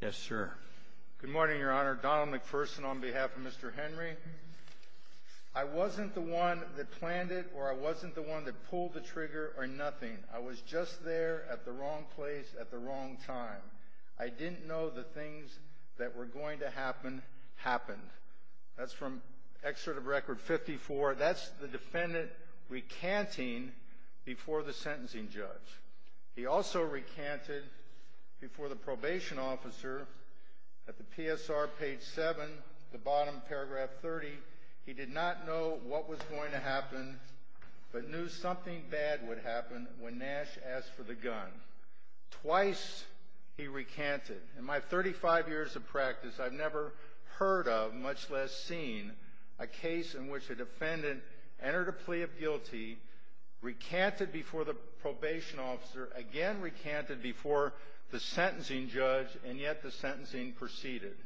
Yes, sir. Good morning, Your Honor. Donald McPherson on behalf of Mr. Henry. I wasn't the one that planned it, or I wasn't the one that pulled the trigger or nothing. I was just there at the wrong place at the wrong time. I didn't know the things that were going to happen, happened. That's from excerpt of Record 54. That's the defendant recanting before the sentencing judge. He also recanted before the probation officer at the PSR page 7, the bottom paragraph 30. He did not know what was going to happen, but knew something bad would happen when Nash asked for the gun. Twice he recanted. In my 35 years of practice, I've never heard of, much less seen, a case in which a defendant entered a plea of guilty, recanted before the probation officer, again recanted before the sentencing judge, and yet the sentencing proceeded.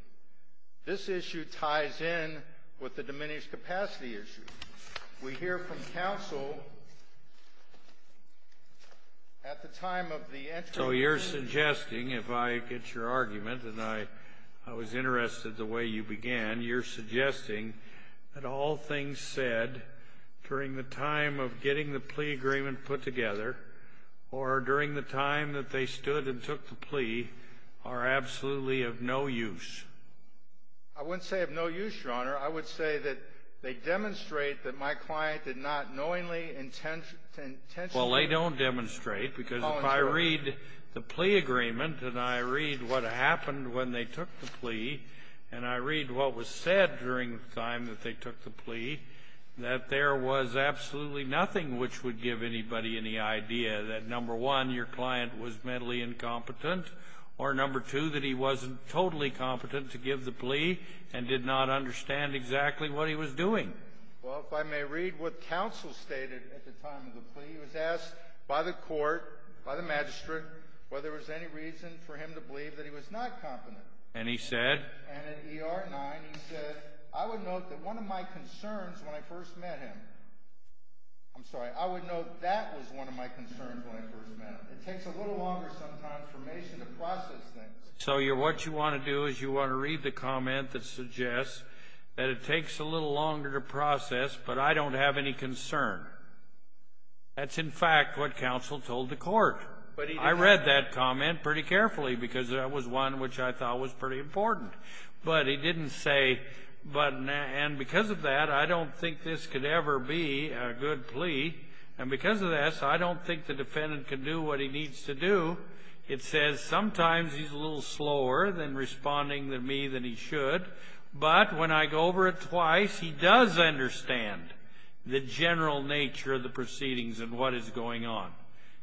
This issue ties in with the diminished capacity issue. We hear from counsel at the time of the entry. So you're suggesting, if I get your argument, and I was interested the way you began, you're suggesting that all things said during the time of getting the plea agreement put together, or during the time that they stood and took the plea, are absolutely of no use. I wouldn't say of no use, Your Honor. I would say that they demonstrate that my client did not knowingly, intentionally… Well, if I may read what counsel stated at the time of the plea, he was asked by the court, by the magistrate, by the court, by the magistrate, by the magistrate, by the magistrate, whether there was any reason for him to believe that he was not competent. And he said? And in ER 9, he said, I would note that one of my concerns when I first met him, I'm sorry, I would note that was one of my concerns when I first met him. It takes a little longer sometimes for me to process things. So what you want to do is you want to read the comment that suggests that it takes a little longer to process, but I don't have any concern. That's in fact what counsel told the court. I read that comment pretty carefully because that was one which I thought was pretty important. But he didn't say, and because of that, I don't think this could ever be a good plea, and because of this, I don't think the defendant can do what he needs to do. It says sometimes he's a little slower than responding to me than he should, but when I go over it twice, he does understand the general nature of the proceedings and what is going on.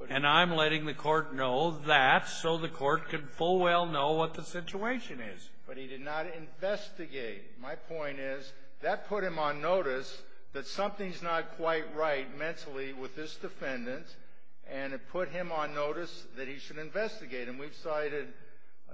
And I'm letting the court know that so the court can full well know what the situation is. But he did not investigate. My point is that put him on notice that something's not quite right mentally with this defendant, and it put him on notice that he should investigate. And we've cited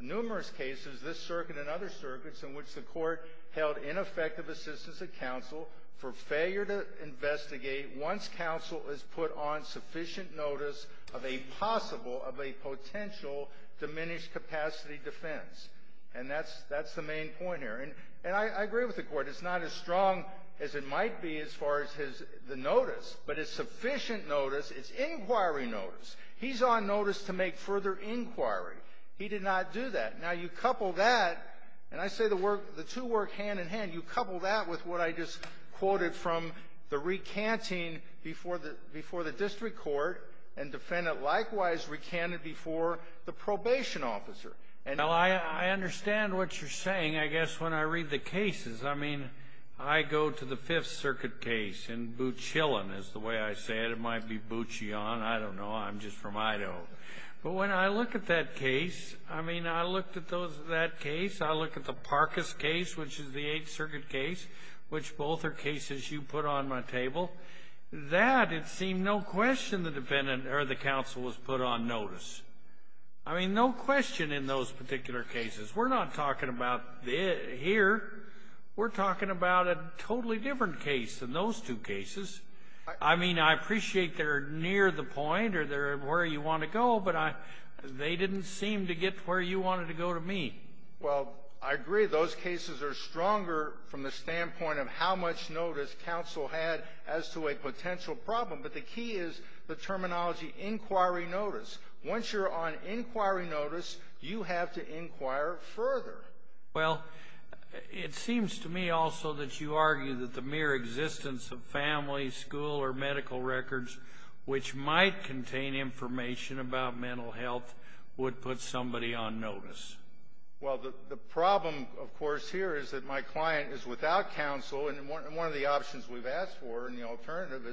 numerous cases, this circuit and other circuits, in which the court held ineffective assistance of counsel for failure to investigate once counsel has put on sufficient notice of a possible, of a potential diminished capacity defense. And that's the main point here. And I agree with the court. It's not as strong as it might be as far as the notice, but it's sufficient notice. It's inquiry notice. He's on notice to make further inquiry. He did not do that. Now, you couple that, and I say the work, the two work hand in hand. You couple that with what I just quoted from the recanting before the district court, and defendant likewise recanted before the probation officer. And I understand what you're saying, I guess, when I read the cases. I mean, I go to the Fifth Circuit case, and Boochillon is the way I say it. It might be Boochillon. I don't know. I'm just from Idaho. But when I look at that case, I mean, I looked at that case. I look at the Parkes case, which is the Eighth Circuit case, which both are cases you put on my table. That, it seemed, no question the defendant or the counsel was put on notice. I mean, no question in those particular cases. We're not talking about here. We're talking about a totally different case than those two cases. I mean, I appreciate they're near the point or they're where you want to go, but they didn't seem to get to where you wanted to go to me. Well, I agree. Those cases are stronger from the standpoint of how much notice counsel had as to a potential problem. But the key is the terminology inquiry notice. Once you're on inquiry notice, you have to inquire further. Well, it seems to me also that you argue that the mere existence of family, school, or medical records, which might contain information about mental health, would put somebody on notice. Well, the problem, of course, here is that my client is without counsel. And one of the options we've asked for in the alternative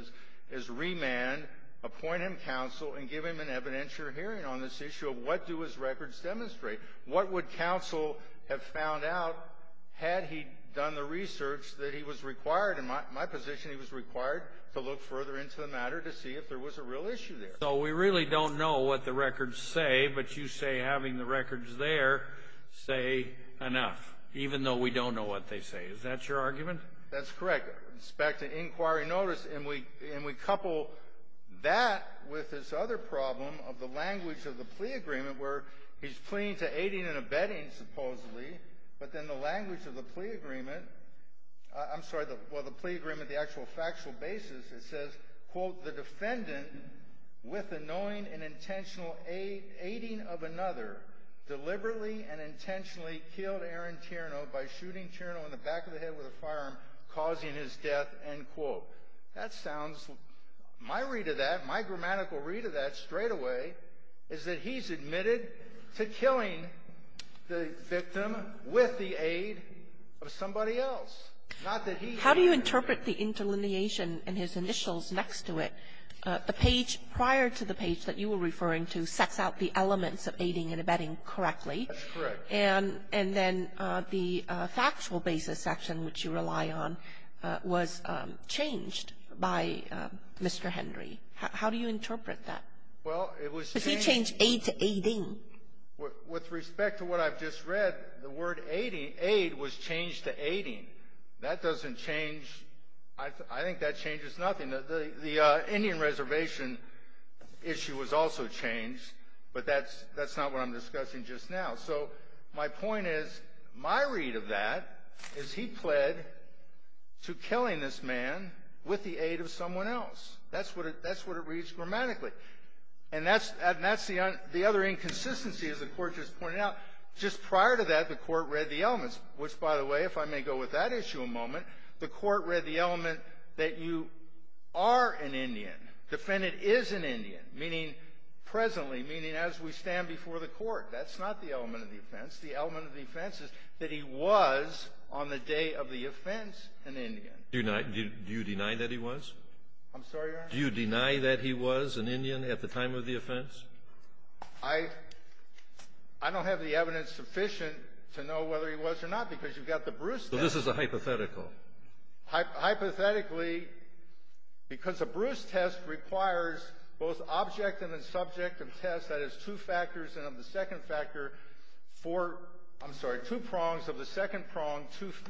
is remand, appoint him counsel, and give him an evidentiary hearing on this issue of what do his records demonstrate. What would counsel have found out had he done the research that he was required in my position he was required to look further into the matter to see if there was a real issue there. So we really don't know what the records say, but you say having the records there say enough, even though we don't know what they say. Is that your argument? That's correct. It's back to inquiry notice. And we couple that with this other problem of the language of the plea agreement, where he's pleading to aiding and abetting, supposedly, but then the language of the plea agreement, I'm sorry, well, the plea agreement, the actual factual basis, it says, quote, the defendant, with the knowing and intentional aiding of another, deliberately and intentionally killed Aaron Tierno by shooting Tierno in the back of the head with a firearm, causing his death, end quote. That sounds, my read of that, my grammatical read of that straightaway, is that he's admitted to killing the victim with the aid of somebody else. Not that he is. How do you interpret the interlineation in his initials next to it? The page prior to the page that you were referring to sets out the elements of aiding and abetting correctly. That's correct. And then the factual basis section, which you rely on, was changed by Mr. Henry. How do you interpret that? Well, it was changed. Because he changed aid to aiding. With respect to what I've just read, the word aid was changed to aiding. That doesn't change, I think that changes nothing. The Indian Reservation issue was also changed, but that's not what I'm discussing just now. So my point is, my read of that is he pled to killing this man with the aid of someone else. That's what it reads grammatically. And that's the other inconsistency, as the Court just pointed out. Just prior to that, the Court read the elements, which, by the way, if I may go with that issue a moment, the Court read the element that you are an Indian, defendant is an Indian, meaning presently, meaning as we stand before the Court. That's not the element of the offense. The element of the offense is that he was, on the day of the offense, an Indian. Do you deny that he was? I'm sorry, Your Honor? Do you deny that he was an Indian at the time of the offense? I don't have the evidence sufficient to know whether he was or not, because you've got the Bruce test. So this is a hypothetical. Hypothetically, because a Bruce test requires both objective and subjective tests, that is, two factors, and of the second factor, four, I'm sorry, two prongs, of the second prong,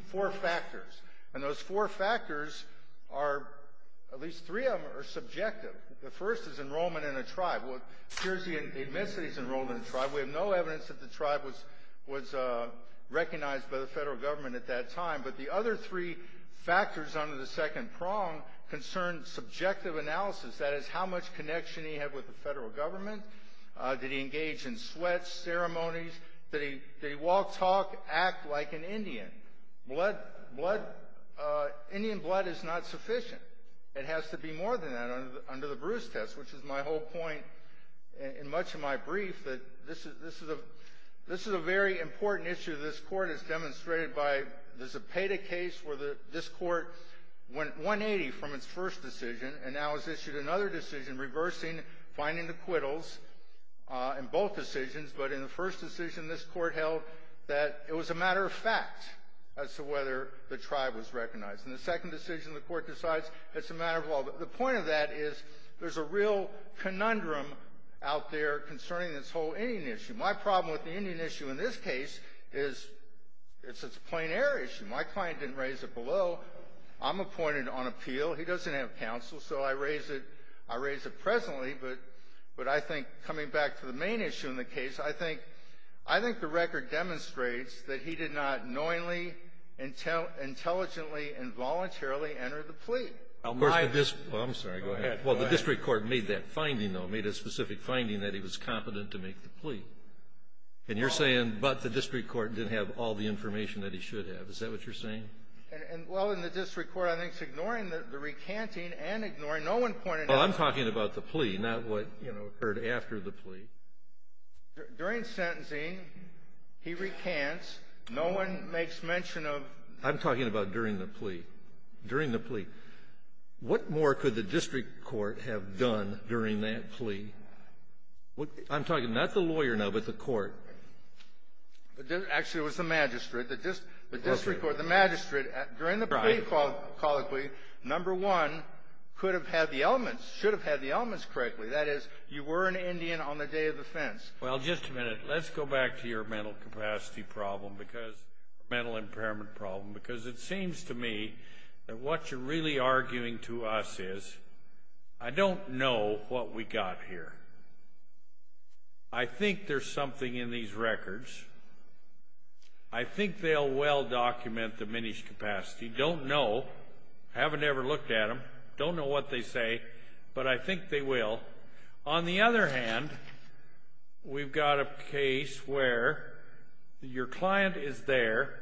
four factors. And those four factors are, at least three of them are subjective. The first is enrollment in a tribe. Well, it appears he admits that he's enrolled in a tribe. We have no evidence that the tribe was recognized by the federal government at that time. But the other three factors under the second prong concern subjective analysis, that is, how much connection he had with the federal government. Did he engage in sweats ceremonies? Did he walk, talk, act like an Indian? Indian blood is not sufficient. It has to be more than that under the Bruce test, which is my whole point in much of my brief, that this is a very important issue. This Court has demonstrated by the Zepeda case where this Court went 180 from its first decision and now has issued another decision reversing, finding the acquittals in both decisions. But in the first decision, this Court held that it was a matter of fact as to whether the tribe was recognized. In the second decision, the Court decides it's a matter of all. The point of that is there's a real conundrum out there concerning this whole Indian issue. My problem with the Indian issue in this case is it's a plain air issue. My client didn't raise it below. I'm appointed on appeal. He doesn't have counsel, so I raise it presently. But I think coming back to the main issue in the case, I think the record demonstrates that he did not knowingly, intelligently, and voluntarily enter the plea. Well, I'm sorry. Go ahead. Well, the district court made that finding, though, made a specific finding that he was competent to make the plea. And you're saying, but the district court didn't have all the information that he should have. Is that what you're saying? Well, in the district court, I think it's ignoring the recanting and ignoring no one pointed out. Well, I'm talking about the plea, not what, you know, occurred after the plea. During sentencing, he recants. No one makes mention of. I'm talking about during the plea. During the plea. What more could the district court have done during that plea? I'm talking not the lawyer now, but the court. Actually, it was the magistrate. The district court, the magistrate, during the plea colloquy, number one, could have had the elements, should have had the elements correctly. That is, you were an Indian on the day of offense. Well, just a minute. Let's go back to your mental capacity problem because, mental impairment problem, because it seems to me that what you're really arguing to us is, I don't know what we got here. I think there's something in these records. I think they'll well document diminished capacity. Don't know. Haven't ever looked at them. Don't know what they say, but I think they will. On the other hand, we've got a case where your client is there.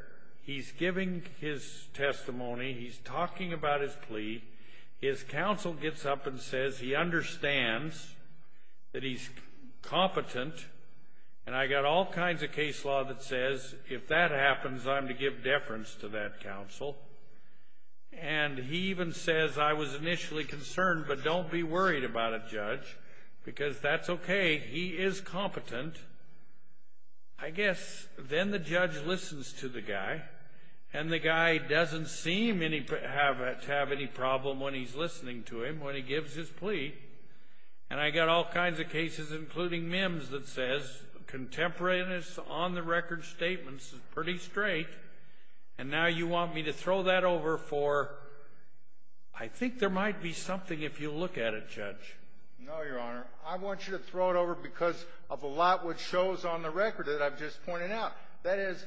He's giving his testimony. He's talking about his plea. His counsel gets up and says he understands that he's competent, and I got all kinds of case law that says, if that happens, I'm to give deference to that counsel. And he even says, I was initially concerned, but don't be worried about it, judge, because that's okay. He is competent. I guess then the judge listens to the guy, and the guy doesn't seem to have any problem when he's listening to him, when he gives his plea. And I got all kinds of cases, including Mims, that says, contemporaneous on the record statements is pretty straight, and now you want me to throw that over for, I think there might be something if you look at it, judge. No, Your Honor. I want you to throw it over because of a lot which shows on the record that I've just pointed out. That is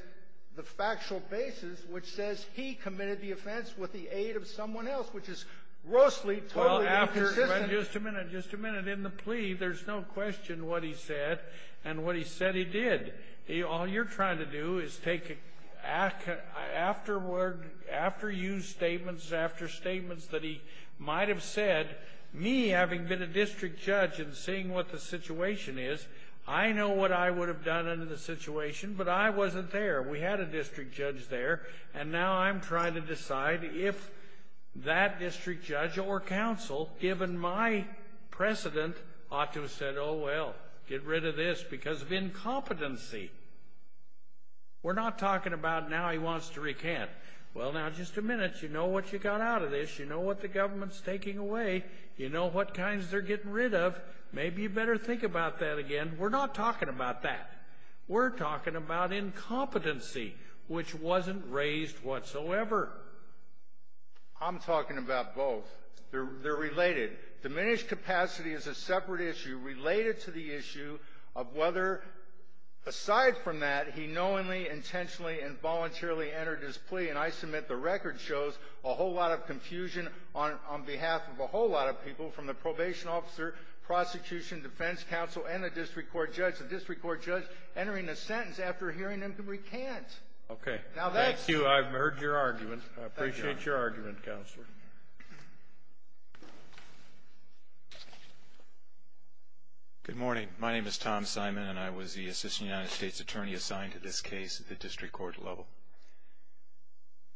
the factual basis which says he committed the offense with the aid of someone else, which is grossly totally inconsistent. Just a minute. Just a minute. In the plea, there's no question what he said and what he said he did. All you're trying to do is take after use statements, after statements that he might have said, me having been a district judge and seeing what the situation is, I know what I would have done under the situation, but I wasn't there. We had a district judge there, and now I'm trying to decide if that district judge or counsel, given my precedent, ought to have said, oh, well, get rid of this because of incompetency. We're not talking about now he wants to recant. Well, now, just a minute. You know what you got out of this. You know what the government's taking away. You know what kinds they're getting rid of. Maybe you better think about that again. We're not talking about that. We're talking about incompetency, which wasn't raised whatsoever. I'm talking about both. They're related. Diminished capacity is a separate issue related to the issue of whether, aside from that, he knowingly, intentionally, and voluntarily entered his plea. And I submit the record shows a whole lot of confusion on behalf of a whole lot of people, from the probation officer, prosecution, defense counsel, and the district court judge. The district court judge entering a sentence after hearing him recant. Now, that's you. I've heard your argument. I appreciate your argument, counsel. Go ahead. Good morning. My name is Tom Simon, and I was the assistant United States attorney assigned to this case at the district court level.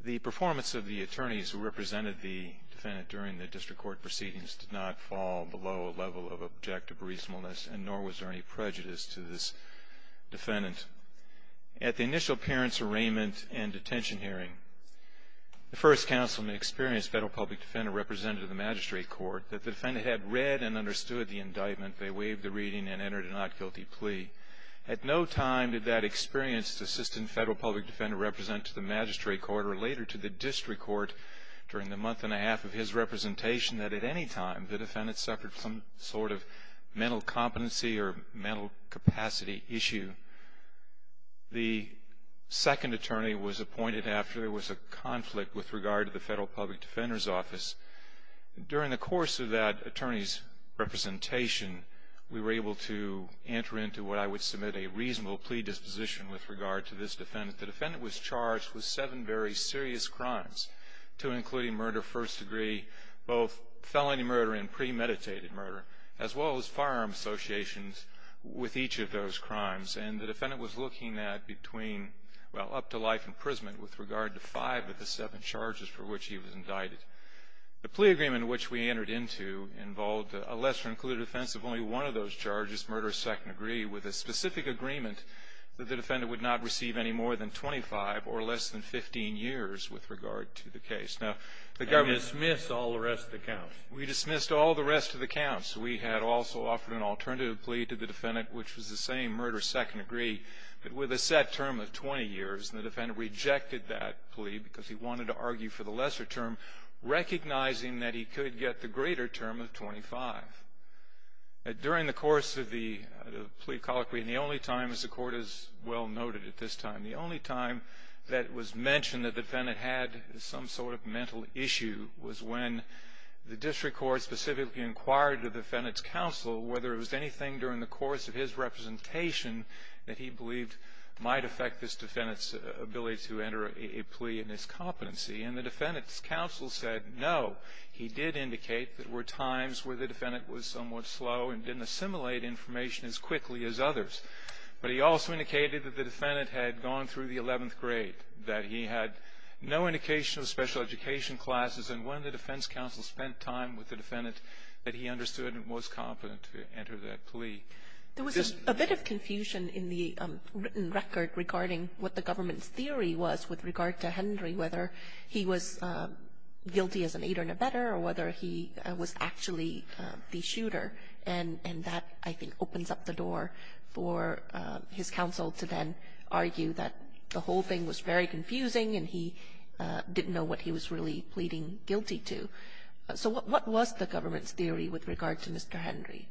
The performance of the attorneys who represented the defendant during the district court proceedings did not fall below a level of objective reasonableness, and nor was there any prejudice to this defendant. At the initial parents' arraignment and detention hearing, the first counselman experienced federal public defender representative of the magistrate court, that the defendant had read and understood the indictment. They waived the reading and entered a not guilty plea. At no time did that experienced assistant federal public defender represent to the magistrate court or later to the district court during the month and a half of his representation that at any time the defendant suffered some sort of mental competency or mental capacity issue. The second attorney was appointed after there was a conflict with regard to the federal public defender's office. During the course of that attorney's representation, we were able to enter into what I would submit a reasonable plea disposition with regard to this defendant. The defendant was charged with seven very serious crimes, two including murder first degree, both felony murder and premeditated murder, as well as firearm associations with each of those crimes. And the defendant was looking at between, well, up to life imprisonment with regard to five of the seven charges for which he was indicted. The plea agreement which we entered into involved a lesser included offense of only one of those charges, murder second degree, with a specific agreement that the defendant would not receive any more than 25 or less than 15 years with regard to the case. And dismiss all the rest of the counts. We dismissed all the rest of the counts. We had also offered an alternative plea to the defendant, which was the same, murder second degree, but with a set term of 20 years. And the defendant rejected that plea because he wanted to argue for the lesser term, recognizing that he could get the greater term of 25. During the course of the plea colloquy, and the only time, as the court has well noted at this time, the only time that it was mentioned that the defendant had some sort of mental issue was when the district court specifically inquired the defendant's counsel whether it was anything during the course of his representation that he believed might affect this defendant's ability to enter a plea in his competency. And the defendant's counsel said no. He did indicate that there were times where the defendant was somewhat slow and didn't assimilate information as quickly as others. But he also indicated that the defendant had gone through the 11th grade, that he had no indication of special education classes, and when the defense counsel spent time with the defendant that he understood and was competent to enter that plea. There was a bit of confusion in the written record regarding what the government's theory was with regard to Henry, whether he was guilty as an aider-ne-bettor or whether he was actually the shooter. And that, I think, opens up the door for his counsel to then argue that the whole thing was very confusing and he didn't know what he was really pleading guilty to. So what was the government's theory with regard to Mr. Henry?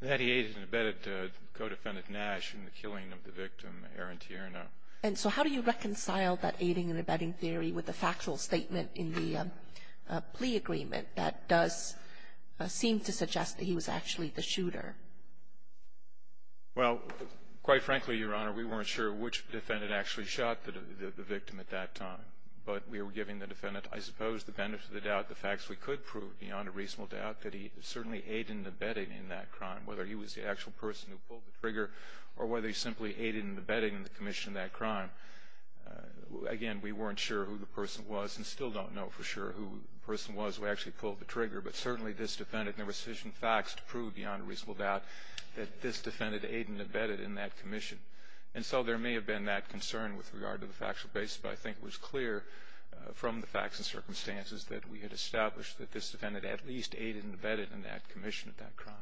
That he aided and abetted co-defendant Nash in the killing of the victim, Aaron Tierno. And so how do you reconcile that aiding and abetting theory with the factual statement in the plea agreement that does seem to suggest that he was actually the shooter? Well, quite frankly, Your Honor, we weren't sure which defendant actually shot the victim at that time. But we were giving the defendant, I suppose, the benefit of the doubt, the facts we could prove beyond a reasonable doubt that he certainly aided and abetted in that crime, whether he was the actual person who pulled the trigger or whether he simply aided and abetted in the commission of that crime. Again, we weren't sure who the person was and still don't know for sure who the person was who actually pulled the trigger. But certainly this defendant, there were sufficient facts to prove beyond a reasonable doubt that this defendant aided and abetted in that commission. And so there may have been that concern with regard to the factual basis, but I think it was clear from the facts and circumstances that we had established that this defendant at least aided and abetted in that commission of that crime.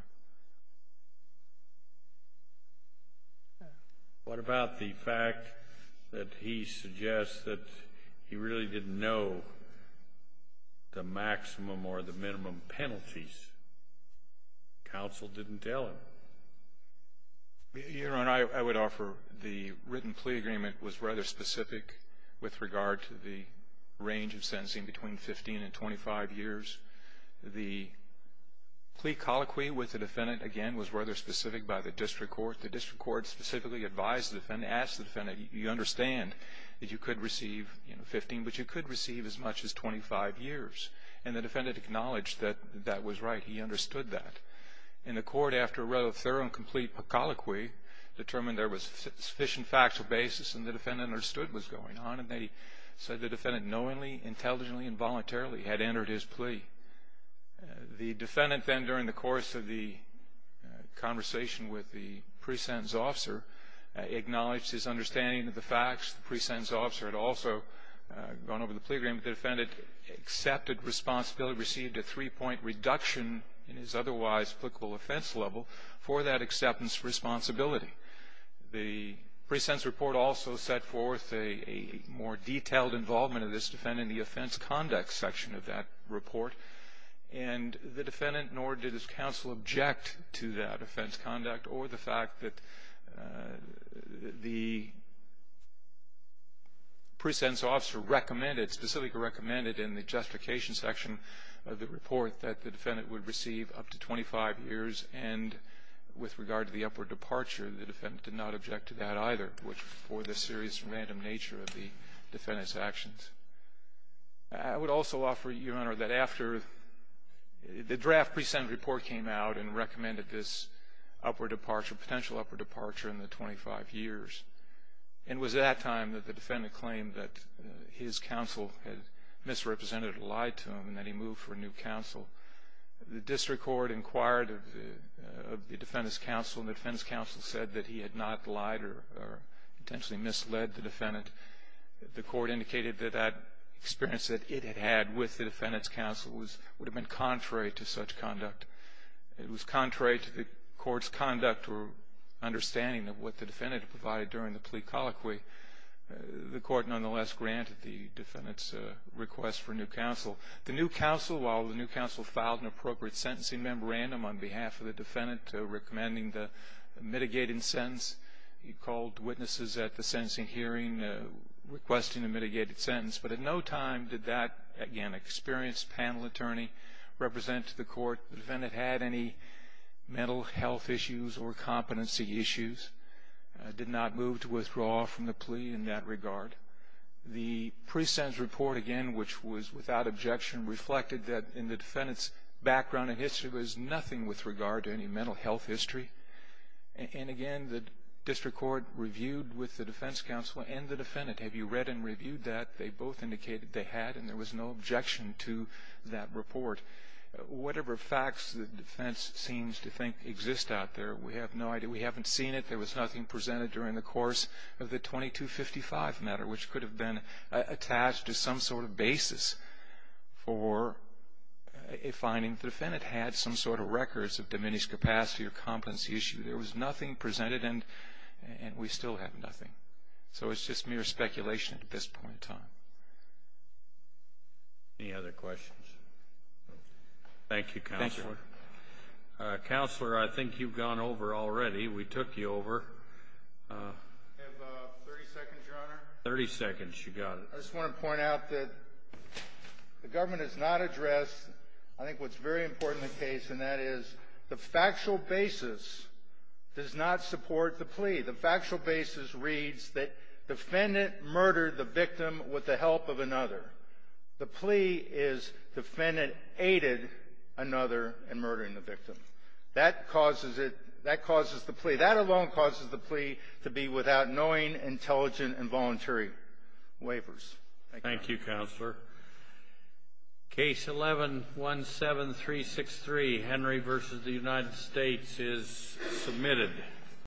What about the fact that he suggests that he really didn't know the maximum or the minimum penalties? Counsel didn't tell him. Your Honor, I would offer the written plea agreement was rather specific with regard to the range of sentencing between 15 and 25 years. The plea colloquy with the defendant, again, was rather specific by the district court. The district court specifically advised the defendant, asked the defendant, you understand that you could receive 15, but you could receive as much as 25 years. And the defendant acknowledged that that was right. He understood that. And the court, after a rather thorough and complete colloquy, determined there was sufficient factual basis and the defendant understood what was going on and they said the defendant knowingly, intelligently, and voluntarily had entered his plea. The defendant then, during the course of the conversation with the pre-sentence officer, acknowledged his understanding of the facts. The pre-sentence officer had also gone over the plea agreement. The defendant accepted responsibility, received a three-point reduction in his otherwise applicable offense level for that acceptance responsibility. The pre-sentence report also set forth a more detailed involvement of this defendant in the offense conduct section of that report. And the defendant nor did his counsel object to that offense conduct or the fact that the pre-sentence officer recommended, specifically recommended in the justification section of the report, that the defendant would receive up to 25 years. And with regard to the upward departure, the defendant did not object to that either for the serious random nature of the defendant's actions. I would also offer, Your Honor, that after the draft pre-sentence report came out and recommended this upward departure, potential upward departure in the 25 years, and it was at that time that the defendant claimed that his counsel had misrepresented and lied to him and that he moved for a new counsel, the district court inquired of the defendant's counsel, and the defendant's counsel said that he had not lied or intentionally misled the defendant. The court indicated that that experience that it had had with the defendant's counsel would have been contrary to such conduct. It was contrary to the court's conduct or understanding of what the defendant had provided during the plea colloquy. The court nonetheless granted the defendant's request for a new counsel. The new counsel, while the new counsel filed an appropriate sentencing memorandum on behalf of the defendant recommending the mitigating sentence, he called witnesses at the sentencing hearing requesting a mitigated sentence. But at no time did that, again, experienced panel attorney represent the court. The defendant had any mental health issues or competency issues, did not move to withdraw from the plea in that regard. The pre-sentence report, again, which was without objection, reflected that in the defendant's background and history, there was nothing with regard to any mental health history. And again, the district court reviewed with the defense counsel and the defendant. Have you read and reviewed that? They both indicated they had, and there was no objection to that report. Whatever facts the defense seems to think exist out there, we have no idea. We haven't seen it. There was nothing presented during the course of the 2255 matter, which could have been attached to some sort of basis for a finding. The defendant had some sort of records of diminished capacity or competency issue. There was nothing presented, and we still have nothing. So it's just mere speculation at this point in time. Any other questions? Thank you, Counselor. Counselor, I think you've gone over already. We took you over. I have 30 seconds, Your Honor. Thirty seconds. You got it. I just want to point out that the government has not addressed, I think, what's very important in the case, and that is the factual basis does not support the plea. The factual basis reads that defendant murdered the victim with the help of another. The plea is defendant aided another in murdering the victim. That causes the plea. That alone causes the plea to be without knowing, intelligent, and voluntary waivers. Thank you, Counselor. Case 11-17363, Henry v. The United States, is submitted.